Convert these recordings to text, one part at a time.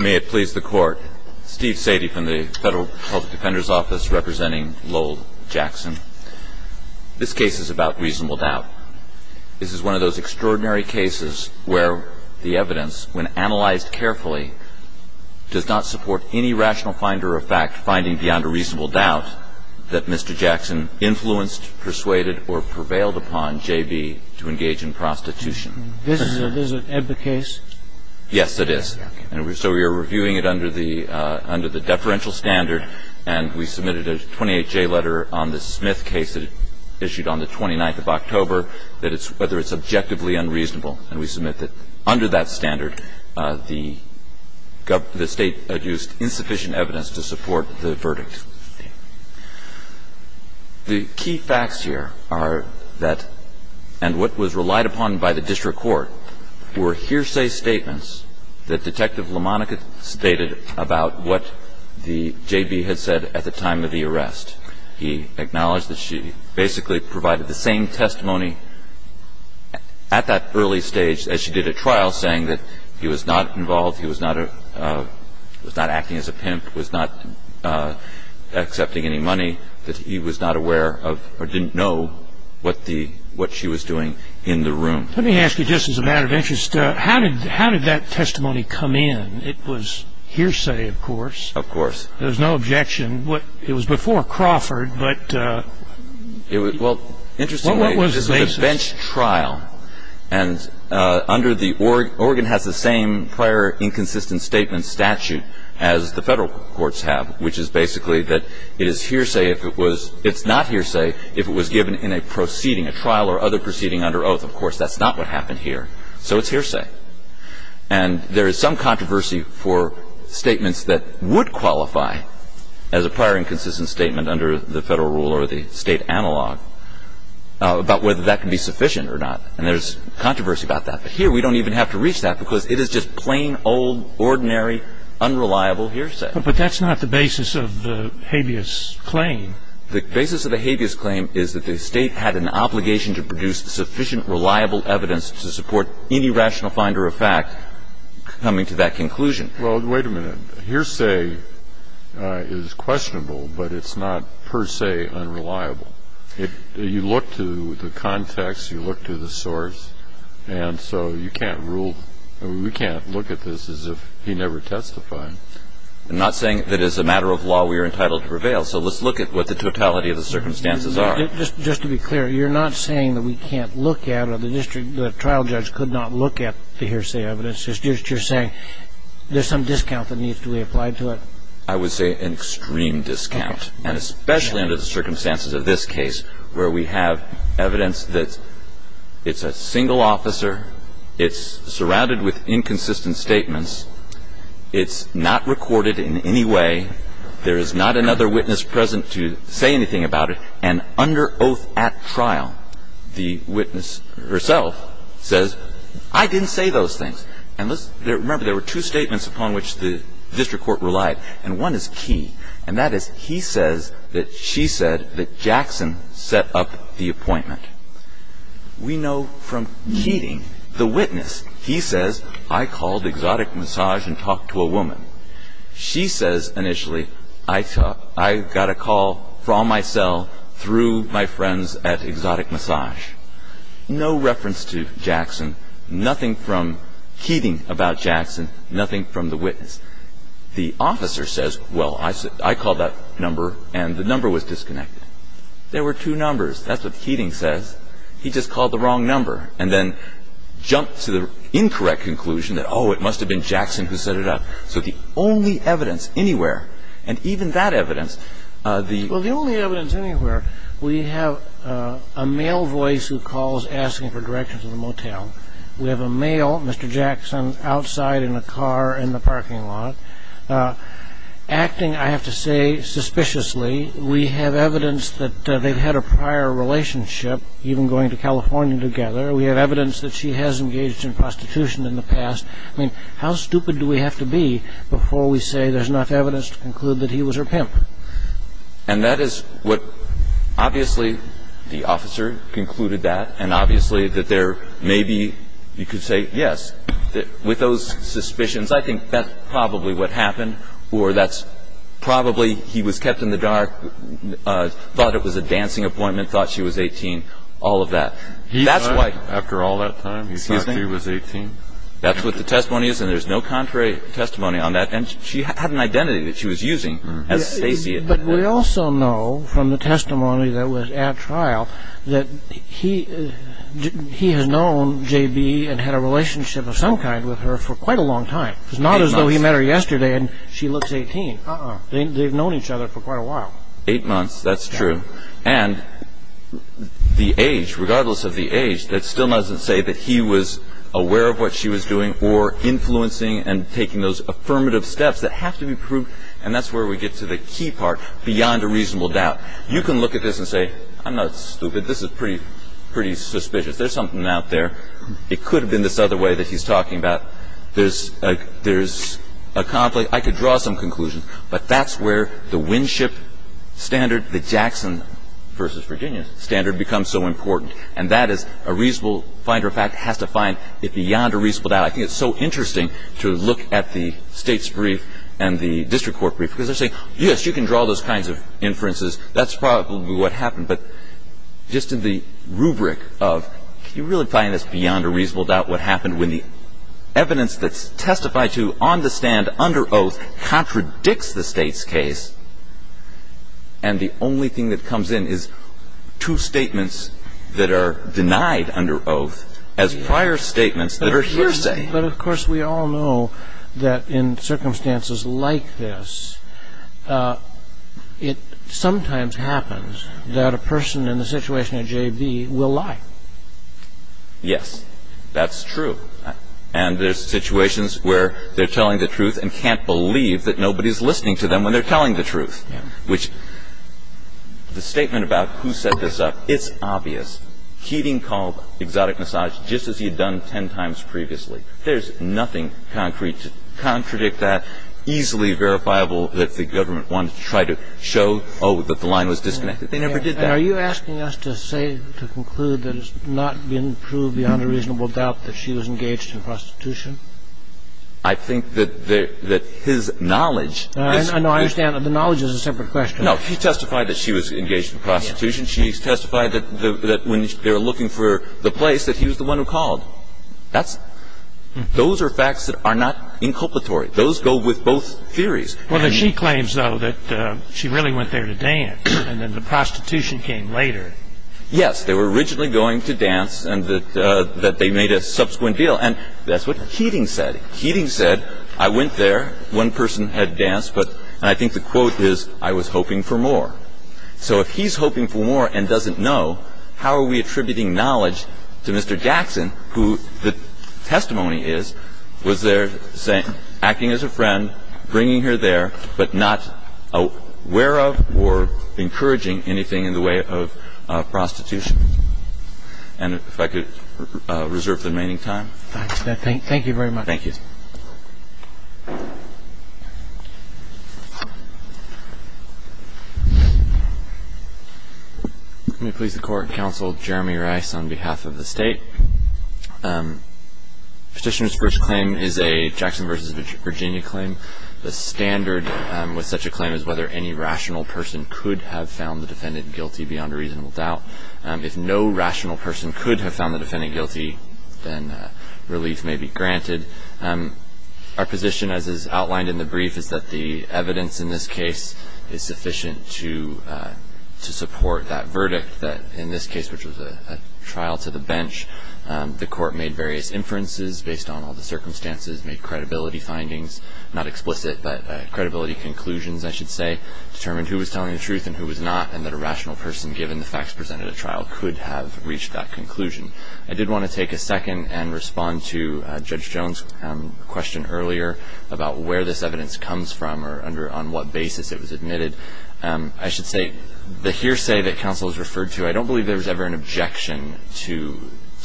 May it please the court, Steve Sadie from the Federal Public Defender's Office representing Lowell Jackson. This case is about reasonable doubt. This is one of those extraordinary cases where the evidence, when analyzed carefully, does not support any rational finder of fact finding beyond a reasonable doubt that Mr. Jackson influenced, persuaded, or prevailed upon J.B. to engage in prostitution. This is an EBBA case? Yes, it is. And so we are reviewing it under the deferential standard. And we submitted a 28-J letter on the Smith case that it issued on the 29th of October, whether it's objectively unreasonable. And we submit that under that standard, the State had used insufficient evidence to support the verdict. The key facts here are that, and what was relied upon by the district court, were hearsay statements that Detective LaMonica stated about what the J.B. had said at the time of the arrest. He acknowledged that she basically provided the same testimony at that early stage as she did at trial, saying that he was not involved, he was not acting as a pimp, that he was not accepting any money, that he was not aware of or didn't know what she was doing in the room. Let me ask you, just as a matter of interest, how did that testimony come in? It was hearsay, of course. Of course. There was no objection. It was before Crawford, but what was the basis? Well, interestingly, this is a bench trial, and under the Oregon has the same prior inconsistent statement statute as the federal courts have, which is basically that it is hearsay if it was — it's not hearsay if it was given in a proceeding, a trial or other proceeding under oath. Of course, that's not what happened here. So it's hearsay. And there is some controversy for statements that would qualify as a prior inconsistent statement under the federal rule or the state analog about whether that can be sufficient or not. And there's controversy about that. But here we don't even have to reach that because it is just plain, old, ordinary, unreliable hearsay. But that's not the basis of the habeas claim. The basis of the habeas claim is that the state had an obligation to produce sufficient, reliable evidence to support any rational finder of fact coming to that conclusion. Well, wait a minute. Hearsay is questionable, but it's not per se unreliable. You look to the context. You look to the source. And so you can't rule — we can't look at this as if he never testified. I'm not saying that as a matter of law we are entitled to prevail. So let's look at what the totality of the circumstances are. Just to be clear, you're not saying that we can't look at or the district — the trial judge could not look at the hearsay evidence. You're saying there's some discount that needs to be applied to it. I would say an extreme discount. And especially under the circumstances of this case where we have evidence that it's a single officer, it's surrounded with inconsistent statements, it's not recorded in any way, there is not another witness present to say anything about it, and under oath at trial, the witness herself says, I didn't say those things. And remember, there were two statements upon which the district court relied, and one is key. And that is he says that she said that Jackson set up the appointment. We know from Keating, the witness, he says, I called Exotic Massage and talked to a woman. She says initially, I got a call from my cell through my friends at Exotic Massage. No reference to Jackson, nothing from Keating about Jackson, nothing from the witness. The officer says, well, I called that number and the number was disconnected. There were two numbers. That's what Keating says. He just called the wrong number and then jumped to the incorrect conclusion that, oh, it must have been Jackson who set it up. So the only evidence anywhere, and even that evidence, the- Well, the only evidence anywhere, we have a male voice who calls asking for directions to the motel. We have a male, Mr. Jackson, outside in a car in the parking lot, acting, I have to say, suspiciously. We have evidence that they've had a prior relationship, even going to California together. We have evidence that she has engaged in prostitution in the past. I mean, how stupid do we have to be before we say there's enough evidence to conclude that he was her pimp? And that is what obviously the officer concluded that, and obviously that there may be, you could say, yes. With those suspicions, I think that's probably what happened, or that's probably he was kept in the dark, thought it was a dancing appointment, thought she was 18, all of that. After all that time, he was 18? That's what the testimony is, and there's no contrary testimony on that. And she had an identity that she was using as Stacey. But we also know from the testimony that was at trial that he has known J.B. and had a relationship of some kind with her for quite a long time. It's not as though he met her yesterday and she looks 18. They've known each other for quite a while. Eight months, that's true. And the age, regardless of the age, that still doesn't say that he was aware of what she was doing or influencing and taking those affirmative steps that have to be proved. And that's where we get to the key part, beyond a reasonable doubt. You can look at this and say, I'm not stupid. This is pretty suspicious. There's something out there. It could have been this other way that he's talking about. There's a conflict. I could draw some conclusions, but that's where the Winship standard, the Jackson v. Virginia standard, becomes so important. And that is a reasonable finder of fact has to find it beyond a reasonable doubt. I think it's so interesting to look at the state's brief and the district court brief because they're saying, yes, you can draw those kinds of inferences. That's probably what happened. But just in the rubric of can you really find this beyond a reasonable doubt what happened when the evidence that's testified to on the stand under oath contradicts the state's case and the only thing that comes in is two statements that are denied under oath as prior statements that are hearsay. But, of course, we all know that in circumstances like this, it sometimes happens that a person in the situation of J.B. will lie. Yes. That's true. And there's situations where they're telling the truth and can't believe that nobody's listening to them when they're telling the truth, which the statement about who set this up, it's obvious. Keating called exotic massage just as he had done ten times previously. There's nothing concrete to contradict that, easily verifiable that the government wanted to try to show, oh, that the line was disconnected. They never did that. Are you asking us to say, to conclude, that it's not been proved beyond a reasonable doubt that she was engaged in prostitution? I think that his knowledge No, I understand that the knowledge is a separate question. No, he testified that she was engaged in prostitution. She testified that when they were looking for the place that he was the one who called. Those are facts that are not inculpatory. Those go with both theories. Well, she claims, though, that she really went there to dance and then the prostitution came later. Yes, they were originally going to dance and that they made a subsequent deal. And that's what Keating said. Keating said, I went there, one person had danced, and I think the quote is, I was hoping for more. So if he's hoping for more and doesn't know, how are we attributing knowledge to Mr. Jackson, who the testimony is was there acting as a friend, bringing her there, but not aware of or encouraging anything in the way of prostitution? And if I could reserve the remaining time. Thank you very much. Thank you. Let me please the Court and counsel Jeremy Rice on behalf of the State. Petitioner's first claim is a Jackson v. Virginia claim. The standard with such a claim is whether any rational person could have found the defendant guilty beyond a reasonable doubt. If no rational person could have found the defendant guilty, then relief may be granted. Our position, as is outlined in the brief, is that the evidence in this case is sufficient to support that verdict, that in this case, which was a trial to the bench, the Court made various inferences based on all the circumstances, made credibility findings, not explicit, but credibility conclusions, I should say, determined who was telling the truth and who was not, and that a rational person, given the facts presented at trial, could have reached that conclusion. I did want to take a second and respond to Judge Jones' question earlier about where this evidence comes from or on what basis it was admitted. I should say the hearsay that counsel has referred to, I don't believe there was ever an objection to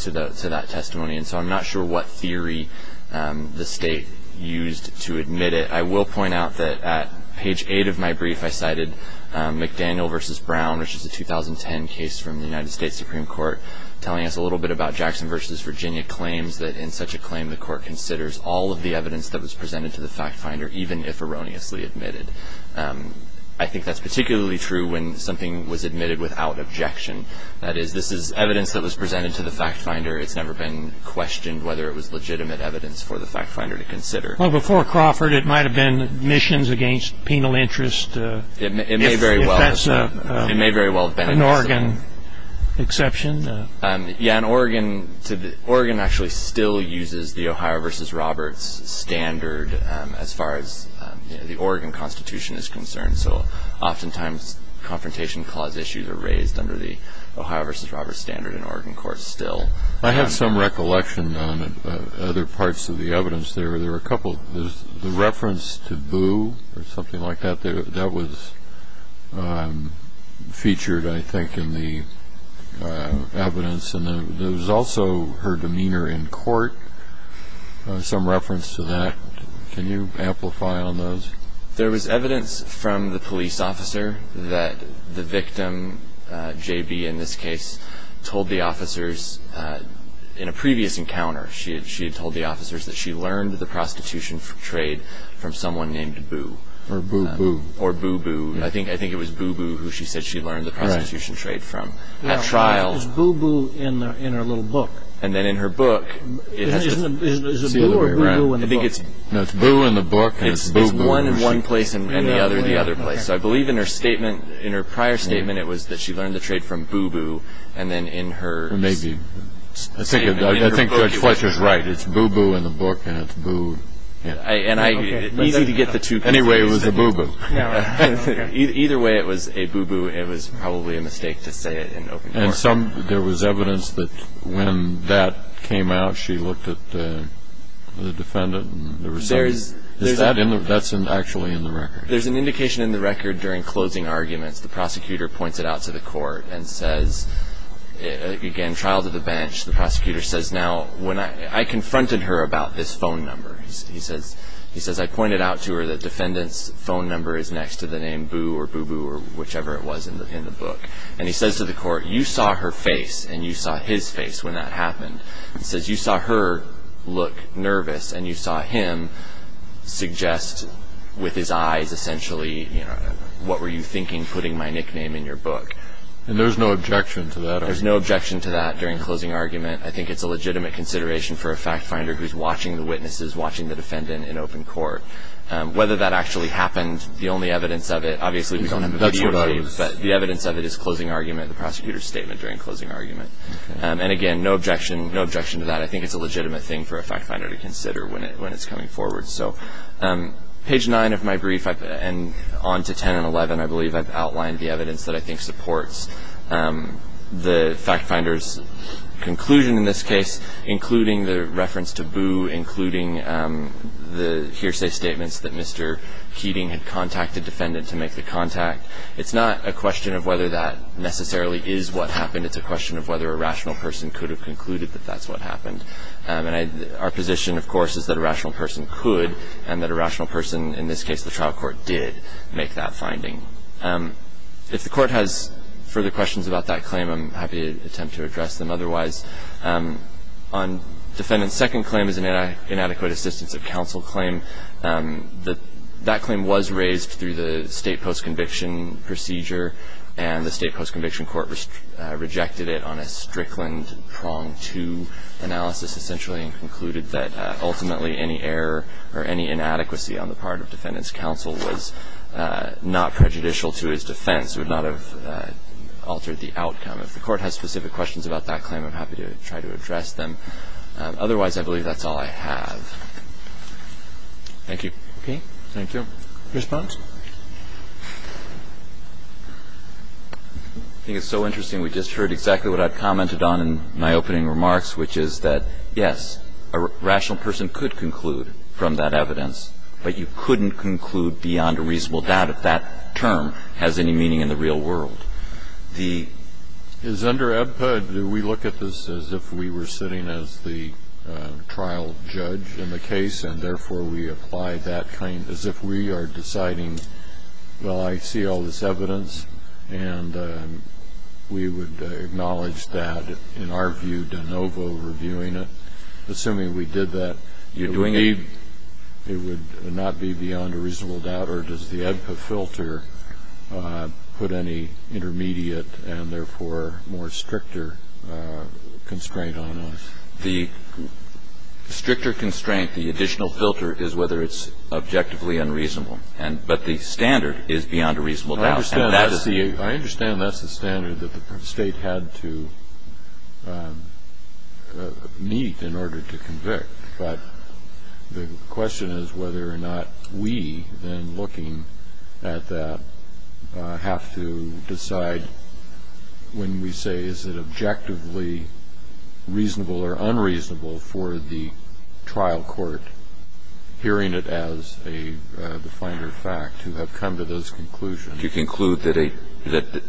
that testimony, and so I'm not sure what theory the State used to admit it. I will point out that at page 8 of my brief, I cited McDaniel v. Brown, which is a 2010 case from the United States Supreme Court, telling us a little bit about Jackson v. Virginia claims, that in such a claim the Court considers all of the evidence that was presented to the fact finder, even if erroneously admitted. I think that's particularly true when something was admitted without objection. That is, this is evidence that was presented to the fact finder. It's never been questioned whether it was legitimate evidence for the fact finder to consider. Well, before Crawford, it might have been admissions against penal interest. It may very well have been. If that's an Oregon exception. Yeah, and Oregon actually still uses the Ohio v. Roberts standard as far as the Oregon Constitution is concerned, so oftentimes confrontation clause issues are raised under the Ohio v. Roberts standard in Oregon courts still. I had some recollection on other parts of the evidence there. The reference to boo or something like that, that was featured, I think, in the evidence. And there was also her demeanor in court, some reference to that. Can you amplify on those? There was evidence from the police officer that the victim, J.B. in this case, told the officers in a previous encounter, she had told the officers that she learned the prostitution trade from someone named Boo. Or Boo-Boo. Or Boo-Boo. I think it was Boo-Boo who she said she learned the prostitution trade from at trial. Why is Boo-Boo in her little book? And then in her book, it has this. Is it Boo or Boo-Boo in the book? No, it's Boo in the book and it's Boo-Boo. It's one in one place and the other in the other place. So I believe in her statement, in her prior statement, it was that she learned the trade from Boo-Boo and then in her statement. Maybe. I think Judge Fletcher is right. It's Boo-Boo in the book and it's Boo. Easy to get the two. Anyway, it was a Boo-Boo. Either way, it was a Boo-Boo. It was probably a mistake to say it in open court. And there was evidence that when that came out, she looked at the defendant and the recipient. That's actually in the record. There's an indication in the record during closing arguments, the prosecutor points it out to the court and says, again, trial to the bench. The prosecutor says, now, I confronted her about this phone number. He says, I pointed out to her that defendant's phone number is next to the name Boo or Boo-Boo or whichever it was in the book. And he says to the court, you saw her face and you saw his face when that happened. He says, you saw her look nervous and you saw him suggest with his eyes, essentially, what were you thinking putting my nickname in your book? And there's no objection to that? There's no objection to that during closing argument. I think it's a legitimate consideration for a fact finder who's watching the witnesses, watching the defendant in open court. Whether that actually happened, the only evidence of it, obviously we don't have a video, but the evidence of it is closing argument, the prosecutor's statement during closing argument. And, again, no objection to that. I think it's a legitimate thing for a fact finder to consider when it's coming forward. So page 9 of my brief and on to 10 and 11, I believe, I've outlined the evidence that I think supports the fact finder's conclusion in this case, including the reference to Boo, including the hearsay statements that Mr. Keating had contacted the defendant to make the contact. It's not a question of whether that necessarily is what happened. It's a question of whether a rational person could have concluded that that's what happened. And our position, of course, is that a rational person could and that a rational person, in this case, the trial court, did make that finding. If the court has further questions about that claim, I'm happy to attempt to address them otherwise. On defendant's second claim as an inadequate assistance of counsel claim, that claim was raised through the state post-conviction procedure, and the state post-conviction court rejected it on a Strickland prong to analysis essentially and concluded that ultimately any error or any inadequacy on the part of defendant's counsel was not prejudicial to his defense, would not have altered the outcome. If the court has specific questions about that claim, I'm happy to try to address them. Otherwise, I believe that's all I have. Thank you. Okay. Thank you. Response? I think it's so interesting. We just heard exactly what I commented on in my opening remarks, which is that, yes, a rational person could conclude from that evidence, but you couldn't conclude beyond a reasonable doubt if that term has any meaning in the real world. The ---- Is under EBPUD, do we look at this as if we were sitting as the trial judge in the case and therefore we apply that claim as if we are deciding, well, I see all this evidence and we would acknowledge that in our view de novo reviewing it, assuming we did that. You're doing it. It would not be beyond a reasonable doubt. Or does the EBPUD filter put any intermediate and therefore more stricter constraint on us? The stricter constraint, the additional filter, is whether it's objectively unreasonable. But the standard is beyond a reasonable doubt. I understand that's the standard that the state had to meet in order to convict. But the question is whether or not we, then, looking at that, have to decide when we say is it objectively reasonable or unreasonable for the trial court, hearing it as the finder of fact, to have come to those conclusions. To conclude that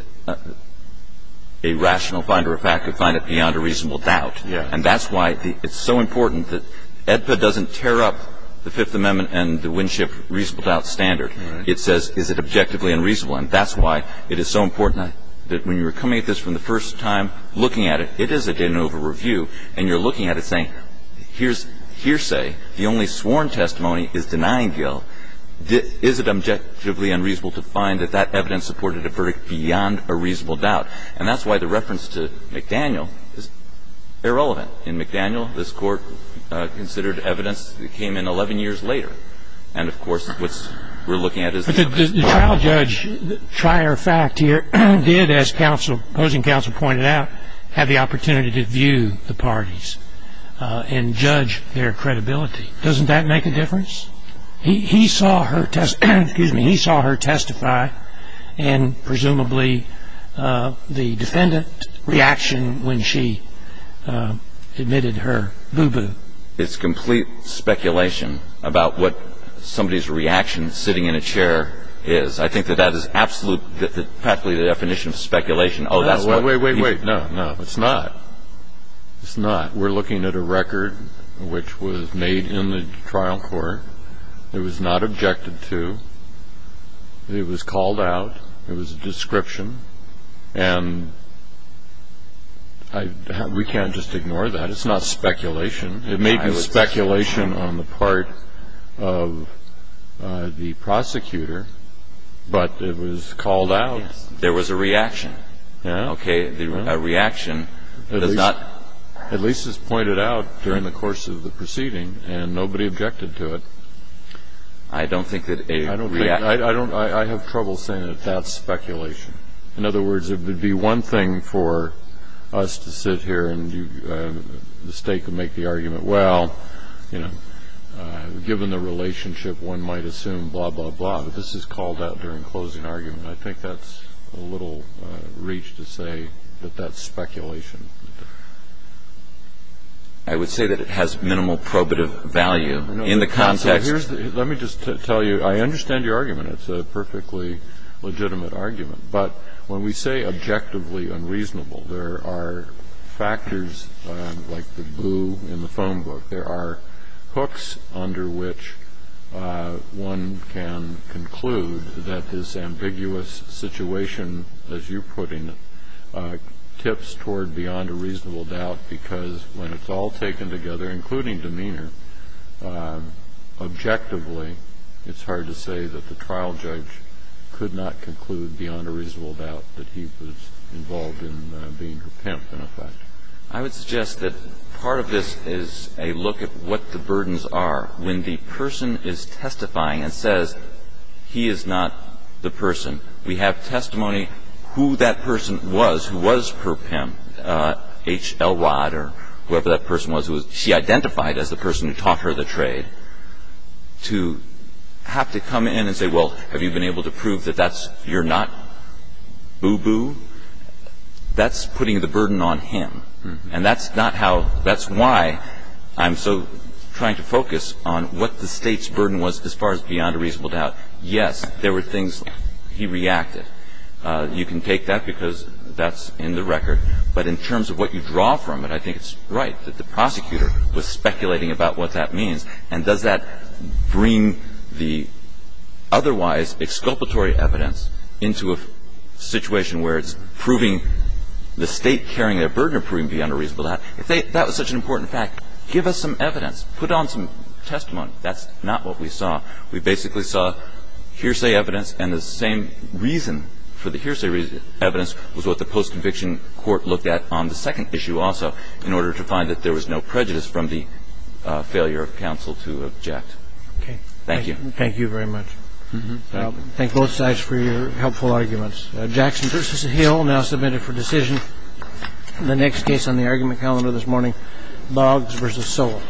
a rational finder of fact could find it beyond a reasonable doubt. Yes. And that's why it's so important that EBPUD doesn't tear up the Fifth Amendment and the Winship reasonable doubt standard. Right. It says is it objectively unreasonable. And that's why it is so important that when you're coming at this for the first time, looking at it, it is a de novo review. And you're looking at it saying here's hearsay. The only sworn testimony is denying guilt. Is it objectively unreasonable to find that that evidence supported a verdict beyond a reasonable doubt? And that's why the reference to McDaniel is irrelevant. In McDaniel, this Court considered evidence that came in 11 years later. And, of course, what we're looking at is the evidence. But the trial judge, trier of fact here, did, as opposing counsel pointed out, have the opportunity to view the parties and judge their credibility. Doesn't that make a difference? He saw her testify and, presumably, the defendant's reaction when she admitted her boo-boo. It's complete speculation about what somebody's reaction sitting in a chair is. I think that that is absolutely practically the definition of speculation. Wait, wait, wait. No, no. It's not. It's not. We're looking at a record which was made in the trial court. It was not objected to. It was called out. It was a description. And we can't just ignore that. It's not speculation. It may be speculation on the part of the prosecutor. But it was called out. There was a reaction. Yeah. Okay. A reaction. At least it's pointed out during the course of the proceeding. And nobody objected to it. I don't think that a reaction. I have trouble saying that that's speculation. In other words, it would be one thing for us to sit here and the State could make the argument, well, you know, given the relationship, one might assume blah, blah, blah. But this is called out during closing argument. I think that's a little reach to say that that's speculation. I would say that it has minimal probative value in the context. Let me just tell you, I understand your argument. It's a perfectly legitimate argument. But when we say objectively unreasonable, there are factors like the boo in the phone book. There are hooks under which one can conclude that this ambiguous situation, as you're putting it, tips toward beyond a reasonable doubt because when it's all taken together, including demeanor, objectively it's hard to say that the trial judge could not conclude beyond a reasonable doubt that he was involved in being her pimp in effect. I would suggest that part of this is a look at what the burdens are when the person is testifying and says he is not the person. We have testimony who that person was who was her pimp, H.L. Watt or whoever that person was. She identified as the person who taught her the trade. To have to come in and say, well, have you been able to prove that you're not boo-boo, that's putting the burden on him. And that's not how, that's why I'm so trying to focus on what the State's burden was as far as beyond a reasonable doubt. Yes, there were things he reacted. You can take that because that's in the record. But in terms of what you draw from it, I think it's right that the prosecutor was speculating about what that means. And does that bring the otherwise exculpatory evidence into a situation where it's proving the State carrying their burden or proving beyond a reasonable doubt? If that was such an important fact, give us some evidence. Put on some testimony. That's not what we saw. We basically saw hearsay evidence and the same reason for the hearsay evidence was what the post-conviction court looked at on the second issue also, in order to find that there was no prejudice from the failure of counsel to object. Okay. Thank you. Thank you very much. Thank both sides for your helpful arguments. Jackson v. Hill now submitted for decision the next case on the argument calendar this morning, Boggs v. Sowell.